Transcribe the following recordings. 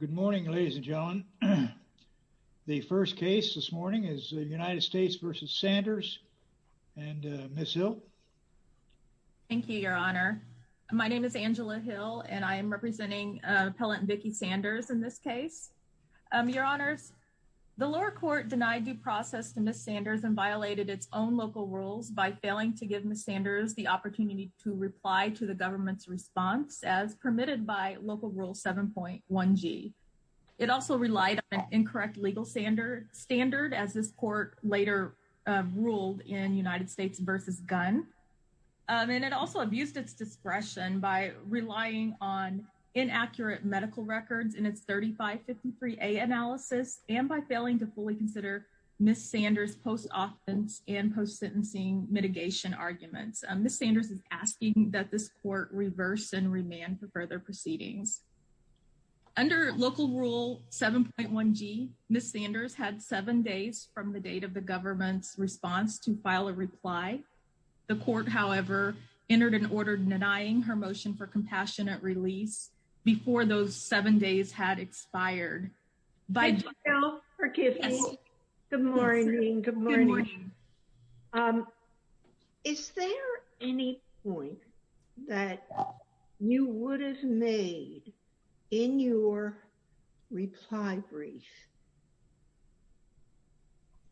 Good morning, ladies and gentlemen. The first case this morning is United States v. Sanders and Ms. Hill. Thank you, Your Honor. My name is Angela Hill and I am representing Appellant Vickie Sanders in this case. Your Honors, the lower court denied due process to Ms. Sanders and violated its own local rules by failing to give Ms. Sanders the opportunity to reply to the government's response as permitted by Local Rule 7.1g. It also relied on an incorrect legal standard, as this court later ruled in United States v. Gunn. And it also abused its discretion by relying on inaccurate medical records in its 3553a analysis and by failing to fully consider Ms. Sanders' post-offense and post-sentencing mitigation arguments. Ms. Sanders is asking that this court reverse and remand for further proceedings. Under Local Rule 7.1g, Ms. Sanders had seven days from the date of the government's response to file a reply. The court, however, entered an order denying her motion for compassionate release before those seven days had expired. I beg your pardon. Is there any point that you would have made in your reply brief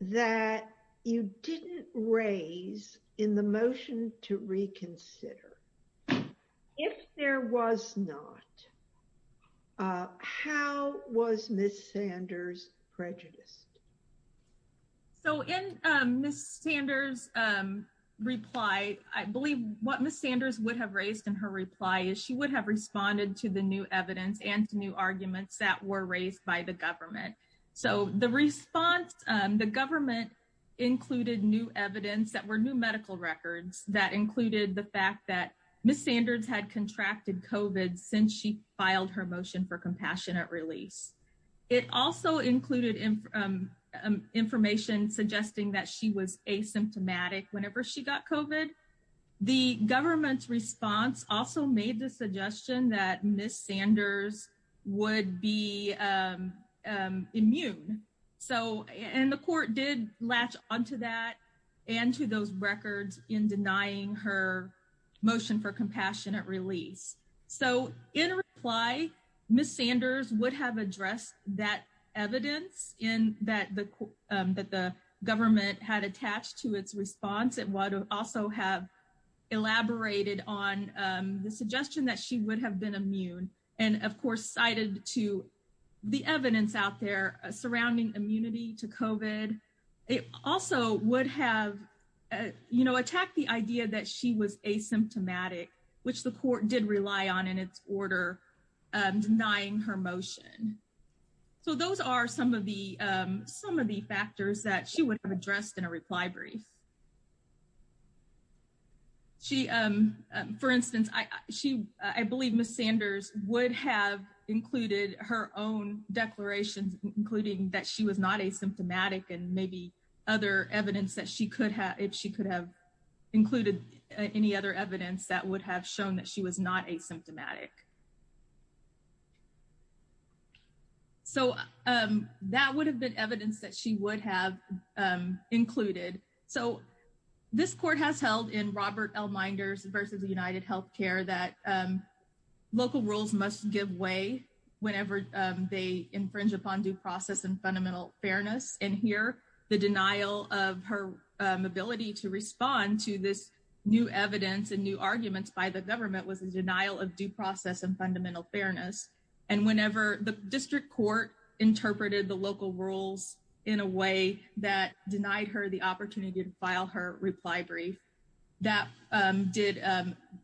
that you didn't raise in the motion to reconsider? If there was not, how was Ms. Sanders prejudiced? So in Ms. Sanders' reply, I believe what Ms. Sanders would have raised in her reply is she would have responded to the new evidence and to new arguments that were raised by the government. So the response, the government included new evidence that were new medical records that included the fact that Ms. Sanders had contracted COVID since she filed her motion for compassionate release. It also included information suggesting that she was asymptomatic whenever she got COVID. The government's response also made the suggestion that Ms. Sanders would be immune. So and the court did latch onto that and to those records in denying her motion for compassionate release. So in reply, Ms. Sanders would have addressed that evidence in that the government had attached to its response. It would also have elaborated on the suggestion that she would have been immune and of course cited to the evidence out there surrounding immunity to COVID. It also would have, you know, attacked the idea that she was asymptomatic, which the court did rely on in its order denying her motion. So those are some of the factors that she would have addressed in a reply brief. She, for instance, I believe Ms. Sanders would have included her own declarations, including that she was not asymptomatic and maybe other evidence that she could have, if she could have included any other evidence that would have shown that she was not asymptomatic. So that would have been evidence that she would have included. So this court has held in Robert L. Minders versus the United Healthcare that local rules must give way whenever they infringe upon due process and fundamental fairness. And here, the denial of her ability to respond to this new evidence and new arguments by the government was a denial of due process and fundamental fairness. And whenever the district court interpreted the local rules in a way that denied her the opportunity to file her reply brief, that did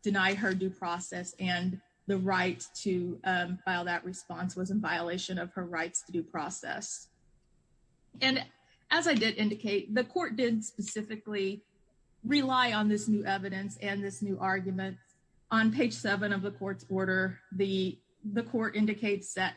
deny her due process and the right to file that response was in violation of her rights to due process. And as I did indicate, the court did specifically rely on this new evidence and this new argument. On page seven of the court's order, the court indicates that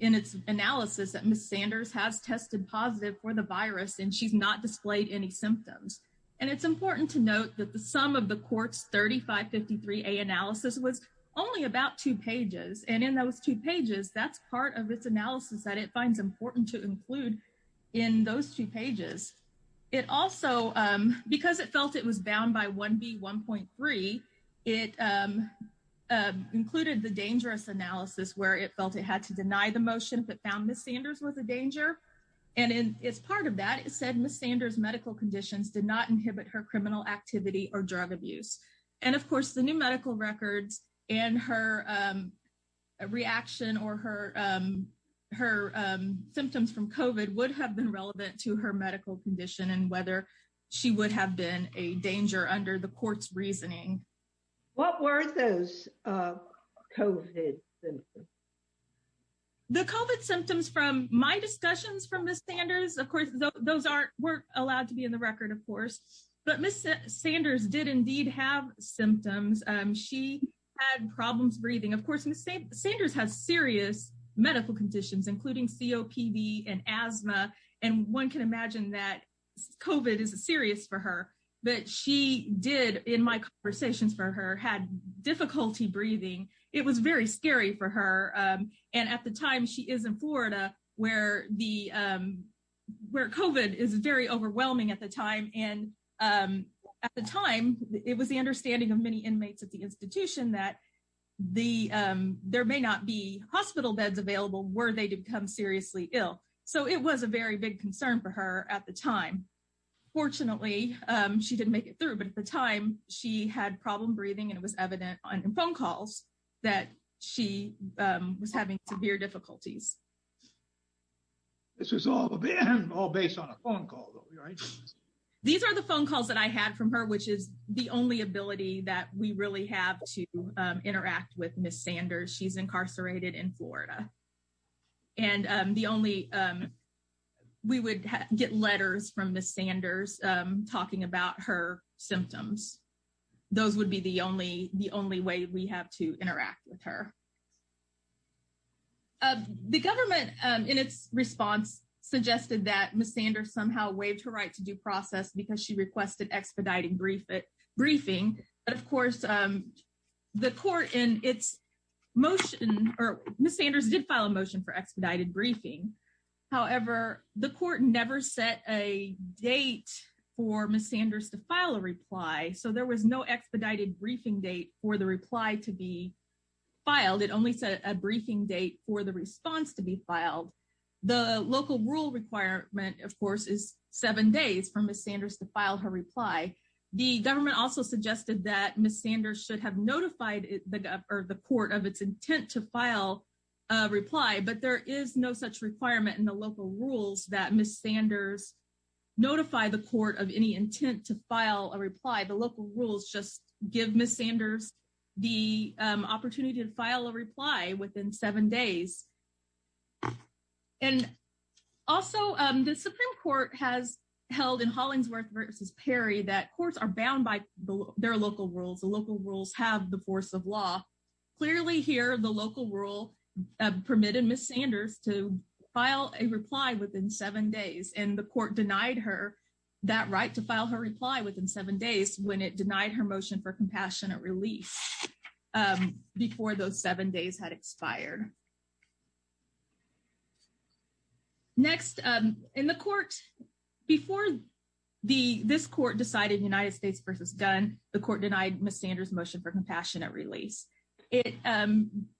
in its analysis that Ms. Sanders has tested positive for the virus and she's not displayed any symptoms. And it's important to note that the sum of the court's 3553A analysis was only about two pages. And in those two pages, that's part of its analysis that it finds important to include in those two pages. It also, because it felt it was bound by 1B1.3, it included the dangerous analysis where it felt it had to deny the motion but found Ms. Sanders was a danger. And as part of that, it said Ms. Sanders' medical conditions did not inhibit her criminal activity or drug abuse. And of course, the new medical records and her reaction or her symptoms from COVID would have been relevant to her medical condition and whether she would have been a danger under the court's reasoning. What were those COVID symptoms? The COVID symptoms from my discussions from Ms. Sanders, of course, those weren't allowed to be in the record, of course. But Ms. Sanders did indeed have symptoms. She had problems breathing. Of course, Ms. Sanders has serious medical conditions, including COPD and asthma. And one can imagine that COVID is serious for her. But she did, in my conversations for her, had difficulty breathing. It was very scary for her. And at the time she is in Florida, where COVID is very overwhelming at the time. And at the time, it was the understanding of many inmates at the institution that there may not be hospital beds available were they to become seriously ill. So it was a very big concern for her at the time. Fortunately, she didn't make it through. But at the time, she had problem breathing and it was evident on phone calls that she was having severe difficulties. This was all based on a phone call, right? These are the phone calls that I had from her, which is the only ability that we really have to interact with Ms. Sanders. She's incarcerated in Florida. And the only, we would get letters from Ms. Sanders talking about her symptoms. Those would be the only way we have to interact with her. The government, in its response, suggested that Ms. Sanders somehow waived her right to due process because she requested expediting briefing. But of course, the court in its motion, or Ms. Sanders did file a motion for expedited briefing. However, the court never set a date for Ms. Sanders to file a reply. So there was no expedited briefing date for the reply to be filed. It only set a briefing date for the response to be filed. The local rule requirement, of course, is seven days for Ms. Sanders to file her reply. The government also suggested that Ms. Sanders should have notified the court of its intent to file a reply. But there is no such requirement in the local rules that Ms. Sanders notify the court of any intent to file a reply. The local rules just give Ms. Sanders the opportunity to file a reply within seven days. And also, the Supreme Court has held in Hollingsworth versus Perry that courts are bound by their local rules. The local rules have the force of law. Clearly here, the local rule permitted Ms. Sanders to file a reply within seven days. And the court denied her that right to file her reply within seven days when it denied her motion for compassionate release before those seven days had expired. Next, in the court, before this court decided United States versus Gunn, the court denied Ms. Sanders' motion for compassionate release. It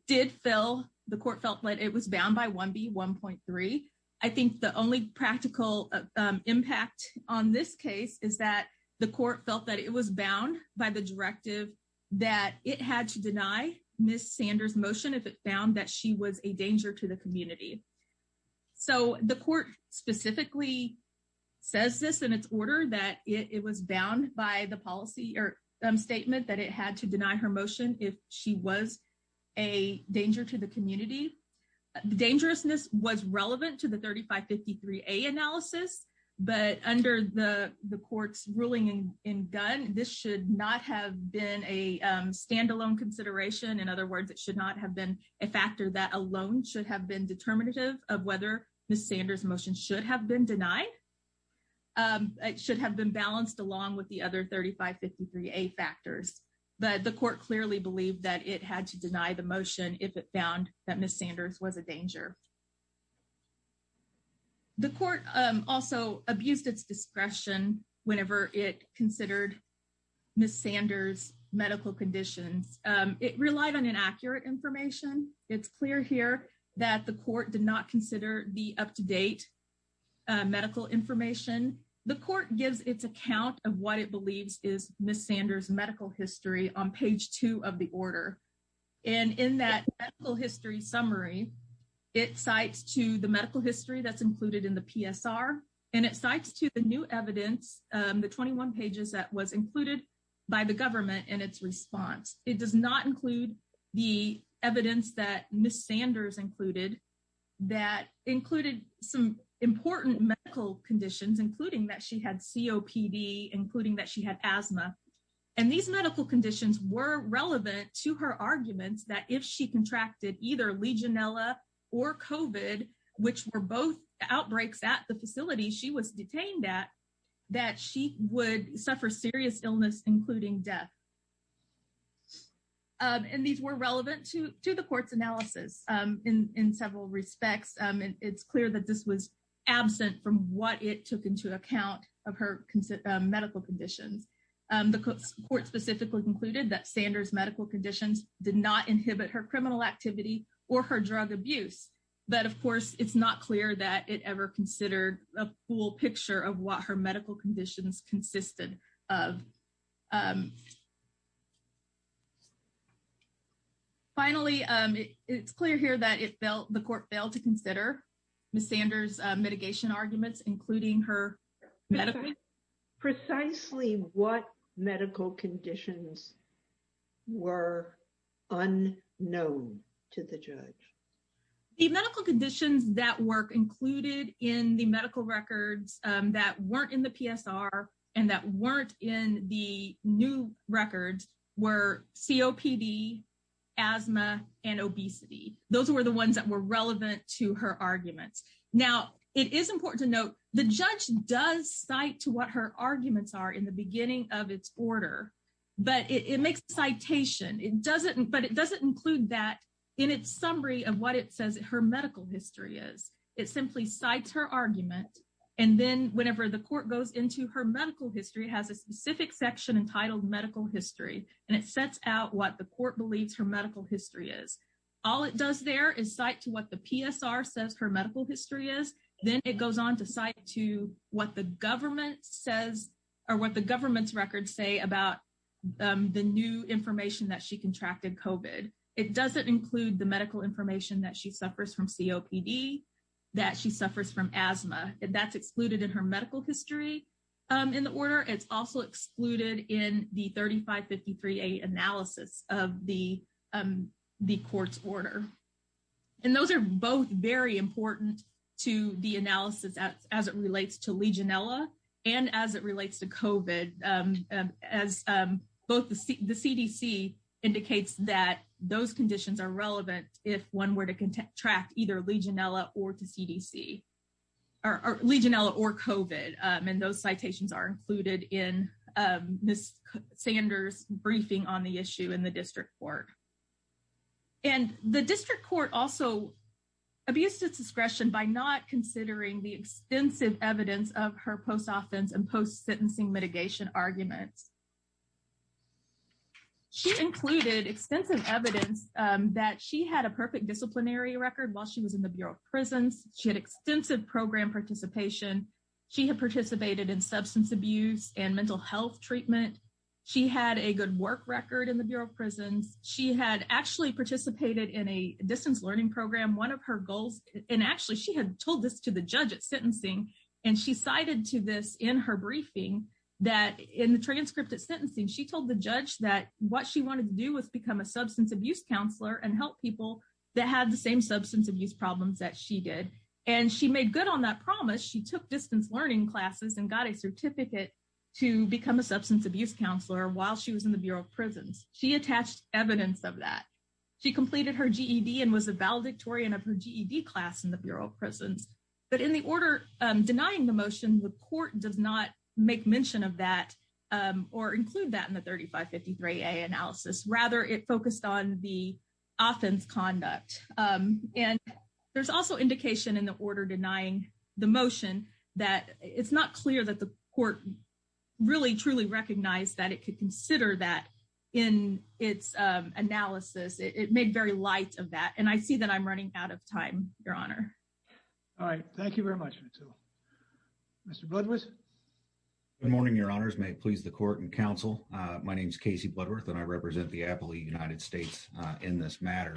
did fill, the court felt that it was bound by 1B1.3. I think the only practical impact on this case is that the court felt that it was bound by the directive that it had to deny Ms. Sanders' motion if it found that she was a danger to the community. So the court specifically says this in its order that it was bound by the policy or statement that it had to deny her motion if she was a danger to the community. The dangerousness was relevant to the 3553A analysis, but under the court's ruling in Gunn, this should not have been a standalone consideration. In other words, it should not have been a factor that alone should have been determinative of whether Ms. Sanders' motion should have been denied. It should have been balanced along with the other 3553A factors. But the court clearly believed that it had to deny her motion. The court also abused its discretion whenever it considered Ms. Sanders' medical conditions. It relied on inaccurate information. It's clear here that the court did not consider the up-to-date medical information. The court gives its account of what it believes is Ms. Sanders' medical history on page two of the order. And in that medical history summary, it cites to the medical history that's included in the PSR, and it cites to the new evidence, the 21 pages that was included by the government in its response. It does not include the evidence that Ms. Sanders included that included some important medical conditions, including that she had COPD, including that she had asthma. And these medical conditions were relevant to her arguments that if she contracted either Legionella or COVID, which were both outbreaks at the facility she was detained at, that she would suffer serious illness, including death. And these were relevant to the court's analysis in several respects. It's clear that this was absent from what it took into account of her medical conditions. The court specifically concluded that Sanders' medical conditions did not inhibit her criminal activity or her drug abuse. But of course, it's not clear that it ever considered a full picture of what her medical conditions consisted of. Finally, it's clear here that the court failed to consider Ms. Sanders' mitigation arguments, including her medical. Precisely what medical conditions were unknown to the judge? The medical conditions that were included in the medical records that weren't in the PSR and that weren't in the new records were COPD, asthma, and obesity. Those were the ones that were relevant to her arguments. Now, it is important to note the judge does cite to what her arguments are in the beginning of its order. But it makes a citation. But it doesn't include that in its summary of what it says her medical history is. It simply cites her argument. And then whenever the court goes into her medical history, it has a specific section entitled medical history. And it sets out what the court believes her medical history is. All it does there is cite to what the PSR says her medical history is. Then it goes on to cite to what the government says or what the government's records say about the new information that she contracted COVID. It doesn't include the medical information that she suffers from COPD, that she suffers from asthma, and that's excluded in her of the court's order. And those are both very important to the analysis as it relates to Legionella and as it relates to COVID. As both the CDC indicates that those conditions are relevant if one were to contract either Legionella or to CDC or Legionella or COVID. And those citations are included in Ms. Sanders' briefing on the issue in the district court. And the district court also abused its discretion by not considering the extensive evidence of her post-offense and post-sentencing mitigation arguments. She included extensive evidence that she had a perfect disciplinary record while she was in the and mental health treatment. She had a good work record in the Bureau of Prisons. She had actually participated in a distance learning program. One of her goals, and actually she had told this to the judge at sentencing, and she cited to this in her briefing that in the transcript at sentencing, she told the judge that what she wanted to do was become a substance abuse counselor and help people that had the same substance abuse problems that she did. And she made good on that promise. She took distance learning classes and got a certificate to become a substance abuse counselor while she was in the Bureau of Prisons. She attached evidence of that. She completed her GED and was a valedictorian of her GED class in the Bureau of Prisons. But in the order denying the motion, the court does not make mention of that or include that in the 3553A analysis. Rather, it focused on the offense conduct. And there's also indication in the order denying the motion that it's not clear that the court really, truly recognized that it could consider that in its analysis. It made very light of that. And I see that I'm running out of time, Your Honor. All right. Thank you very much. Mr. Budwitz. Good morning, Your Honors. May it please the court and counsel. My name is Casey Budwitz, and I represent the Appalachian United States in this matter.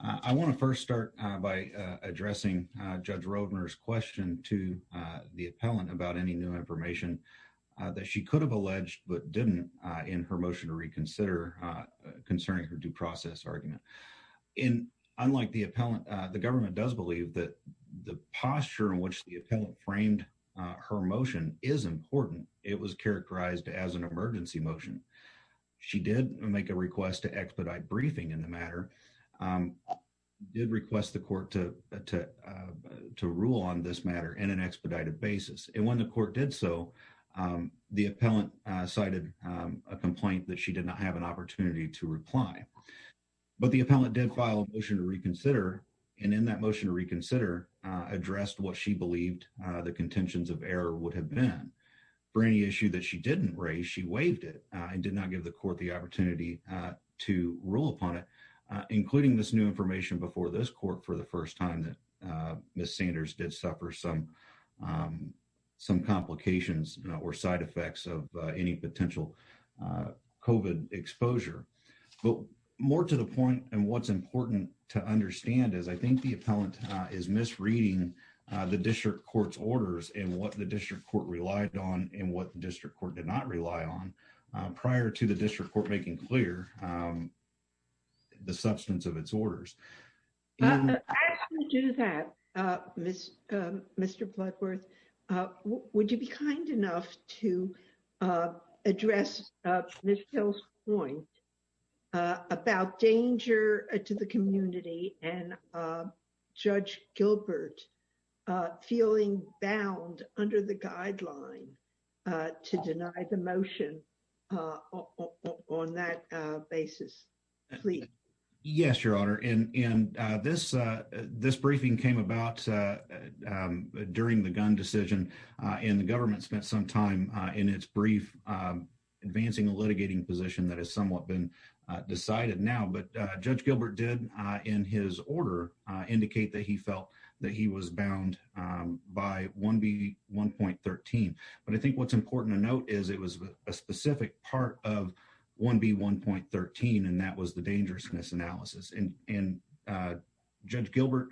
I want to first start by addressing Judge Roedner's question to the appellant about any new information that she could have alleged but didn't in her motion to reconsider concerning her due process argument. And unlike the appellant, the government does believe that the posture in which the appellant framed her motion is important. It was characterized as an emergency motion. She did make a request to expedite briefing in the matter, did request the court to rule on this matter in an expedited basis. And when the court did so, the appellant cited a complaint that she did not have an opportunity to reply. But the appellant did file a motion to reconsider, and in that motion to reconsider addressed what she believed the contentions of error would have been. For any issue that she didn't raise, she waived it and did not give the court the opportunity to rule upon it, including this new information before this court for the first time that Ms. Sanders did suffer some complications or side effects of any potential COVID exposure. But more to the point, and what's important to understand is I think the appellant is misreading the district court's orders and what the district court relied on and what the district court did not rely on prior to the district court making clear the substance of its orders. As we do that, Mr. Bloodworth, would you be kind enough to address Ms. Hill's point about danger to the community and Judge Gilbert feeling bound under the guideline to deny the motion on that basis, please? Yes, Your Honor. And this briefing came about during the gun decision, and the government spent some time in its brief advancing a litigating position that has somewhat been decided now. But Judge Gilbert did in his order indicate that he felt that he was bound by 1B1.13. But I think what's important to note is it was a specific part of 1B1.13, and that was the dangerousness analysis. And Judge Gilbert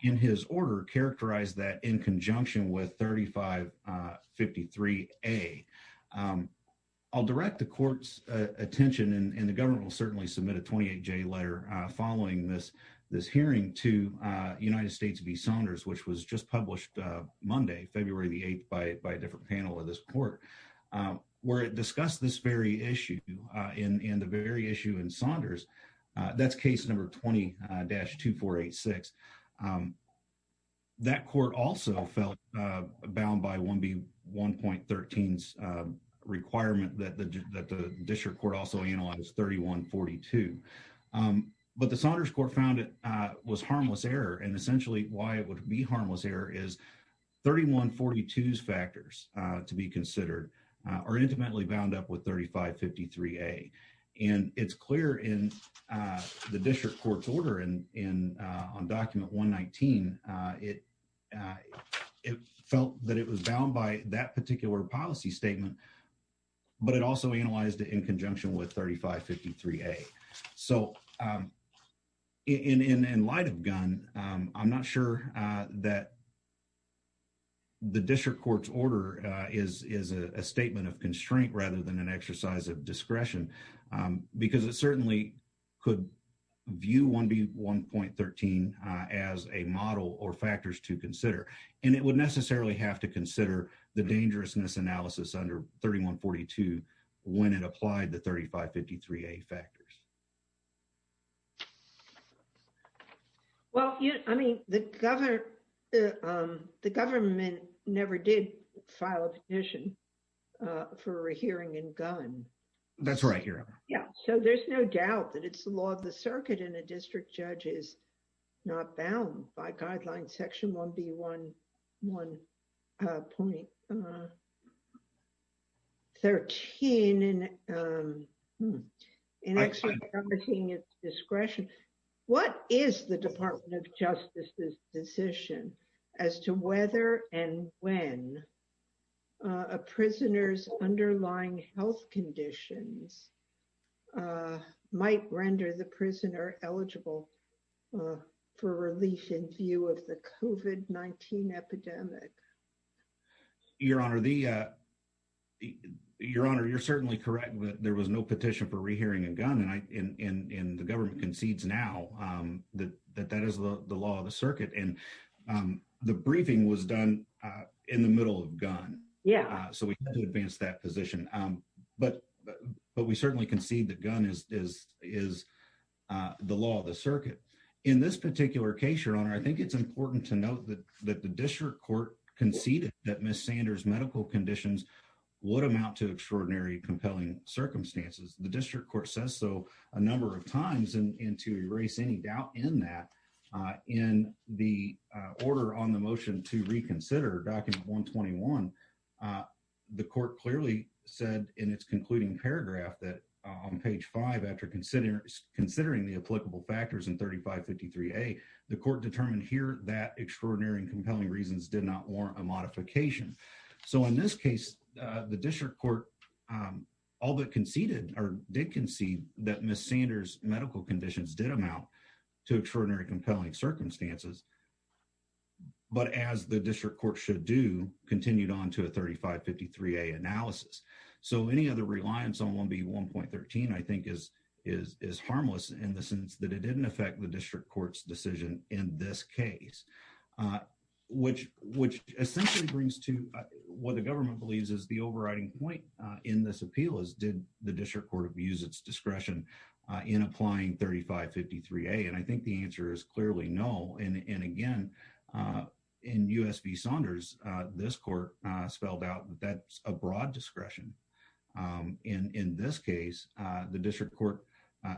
in his order characterized that in conjunction with 3553A. I'll direct the court's attention, and the government will certainly submit a 28-J letter following this hearing to United States v. Saunders, which was just published Monday, February the 8th, by a different panel of this court, where it discussed this very issue and the very issue in Saunders. That's case number 20-2486. That court also felt bound by 1B1.13's requirement that the district court also analyze 3142. But the Saunders court found it was harmless error, and essentially why it would be harmless error is 3142's factors to be considered are intimately bound up with 3553A. And it's clear in the district court's order on document 119, it felt that it was bound by that particular policy statement, but it also analyzed it in conjunction with 3553A. So in light of Gunn, I'm not sure that the district court's order is a statement of constraint rather than an exercise of discretion, because it certainly could view 1B1.13 as a model or factors to consider. And it would necessarily have to consider the dangerousness analysis under 3142 when it applied the 3553A factors. Well, I mean, the government never did file a petition for a hearing in Gunn. That's right, Your Honor. Yeah. So there's no doubt that it's the law of section 1B1.13 in exercising its discretion. What is the Department of Justice's decision as to whether and when a prisoner's underlying health conditions might render the prisoner eligible for relief in view of the COVID-19 epidemic? Your Honor, you're certainly correct that there was no petition for rehearing in Gunn, and the government concedes now that that is the law of the circuit. And the briefing was done in the middle of Gunn. Yeah. So we had to advance that position. But we certainly concede that Gunn is the law of the circuit. In this particular case, Your Honor, I think it's important to note that the district court conceded that Ms. Sanders' medical conditions would amount to extraordinary, compelling circumstances. The district court says so a number of times, and to erase any doubt in that, in the order on the motion to reconsider, document 121, the court clearly said in its concluding paragraph that on page 5, after considering the applicable factors in 3553A, the court determined here that extraordinary and compelling reasons did not warrant a modification. So in this case, the district court did concede that Ms. Sanders' medical conditions did amount to extraordinary and compelling circumstances, but as the district court should do, continued on to a 3553A analysis. So any other reliance on 1B1.13 I think is harmless in the sense that it didn't affect the district court's decision in this case, which essentially brings to what the government believes is the overriding point in this appeal is did the district court use its discretion in applying 3553A? And I think the answer is clearly no. And again, in U.S. v. Saunders, this court spelled out that that's a broad discretion. And in this case, the district court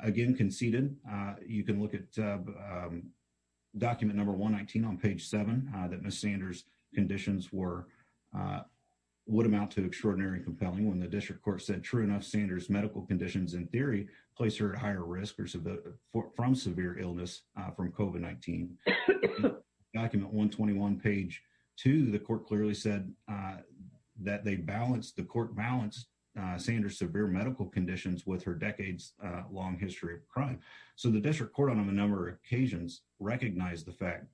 again conceded. You can look at document number 119 on page 7 that Ms. Sanders' conditions would amount to extraordinary and in theory place her at higher risk from severe illness from COVID-19. Document 121, page 2, the court clearly said that the court balanced Sanders' severe medical conditions with her decades-long history of crime. So the district court on a number of occasions recognized the fact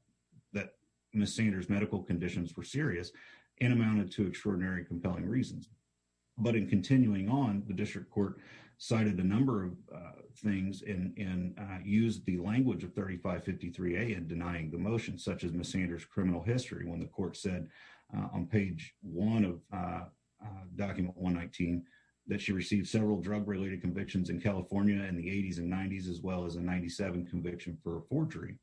that Ms. Sanders' medical conditions were serious and amounted to a number of things and used the language of 3553A in denying the motion, such as Ms. Sanders' criminal history, when the court said on page one of document 119 that she received several drug-related convictions in California in the 80s and 90s, as well as a 97 conviction for forgery.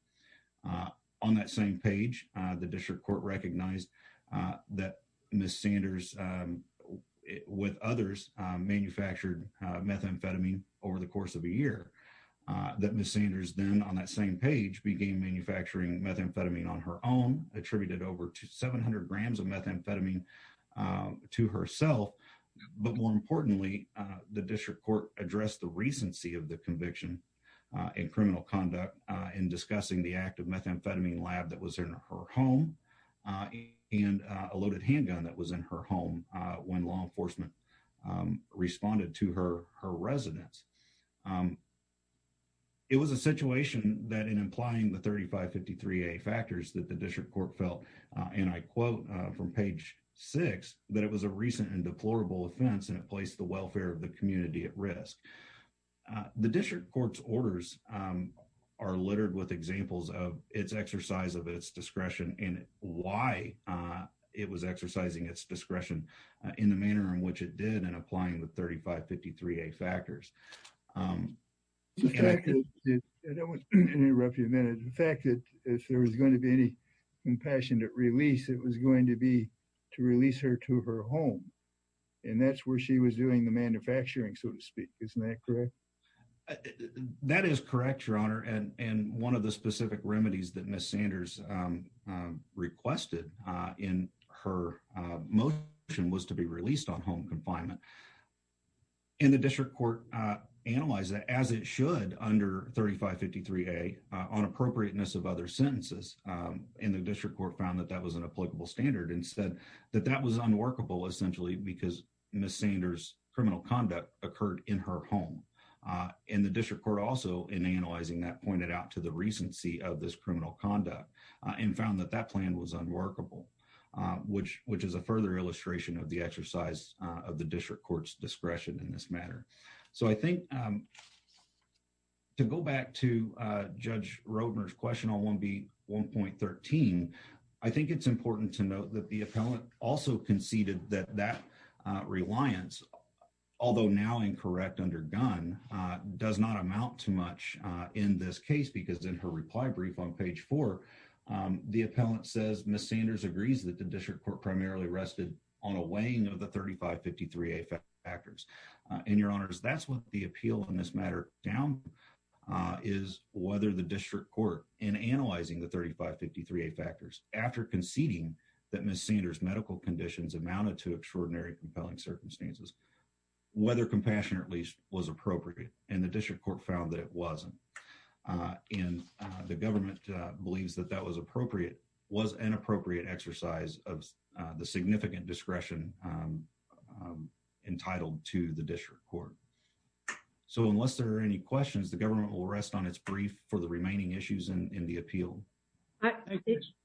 On that same page, the district court recognized that Ms. Sanders, with others, manufactured methamphetamine over the course of a year, that Ms. Sanders then on that same page began manufacturing methamphetamine on her own, attributed over 700 grams of methamphetamine to herself. But more importantly, the district court addressed the recency of the conviction in criminal conduct in discussing the active methamphetamine lab that was in her home and a loaded handgun that was in her home when law enforcement responded to her residence. It was a situation that in implying the 3553A factors that the district court felt, and I quote from page six, that it was a recent and deplorable offense and it placed the welfare of the community at risk. The district court's orders are littered with examples of its exercise of its discretion and why it was exercising its discretion in the manner in which it did in applying the 3553A factors. The fact that if there was going to be any compassionate release, it was going to be to release her to her home. And that's where she was doing the manufacturing, so to speak. Isn't that correct? That is correct, your honor. And one of the specific remedies that Ms. Sanders requested in her motion was to be released on home confinement. And the district court analyzed that as it should under 3553A on appropriateness of other sentences. And the district court found that that was an applicable standard and said that that was unworkable essentially because Ms. Sanders' criminal conduct occurred in her home. And the found that that plan was unworkable, which is a further illustration of the exercise of the district court's discretion in this matter. So I think to go back to Judge Roedner's question on 1B1.13, I think it's important to note that the appellant also conceded that that reliance, although now incorrect under gun, does not amount to much in this case because in her reply brief on 1B1.14, the appellant says Ms. Sanders agrees that the district court primarily rested on a weighing of the 3553A factors. And your honors, that's what the appeal in this matter down is whether the district court in analyzing the 3553A factors after conceding that Ms. Sanders' medical conditions amounted to extraordinary compelling circumstances, whether compassionate at least was appropriate. And the district court found that it wasn't. And the government believes that that was appropriate, was an appropriate exercise of the significant discretion entitled to the district court. So unless there are any questions, the government will rest on its brief for the remaining issues in the appeal.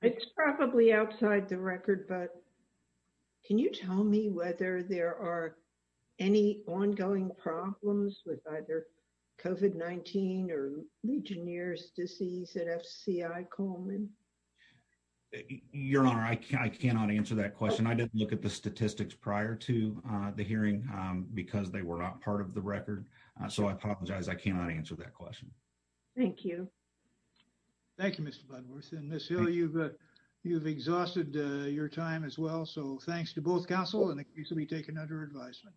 It's probably outside the record, but can you tell me whether there are any ongoing problems with either COVID-19 or Legionnaire's disease at FCI Coleman? Your honor, I cannot answer that question. I didn't look at the statistics prior to the hearing because they were not part of the record. So I apologize. I cannot answer that question. Thank you. Thank you, Mr. Budworth. And Ms. Hill, you've exhausted your time as well. So thanks to both counsel and it can be taken under advisement.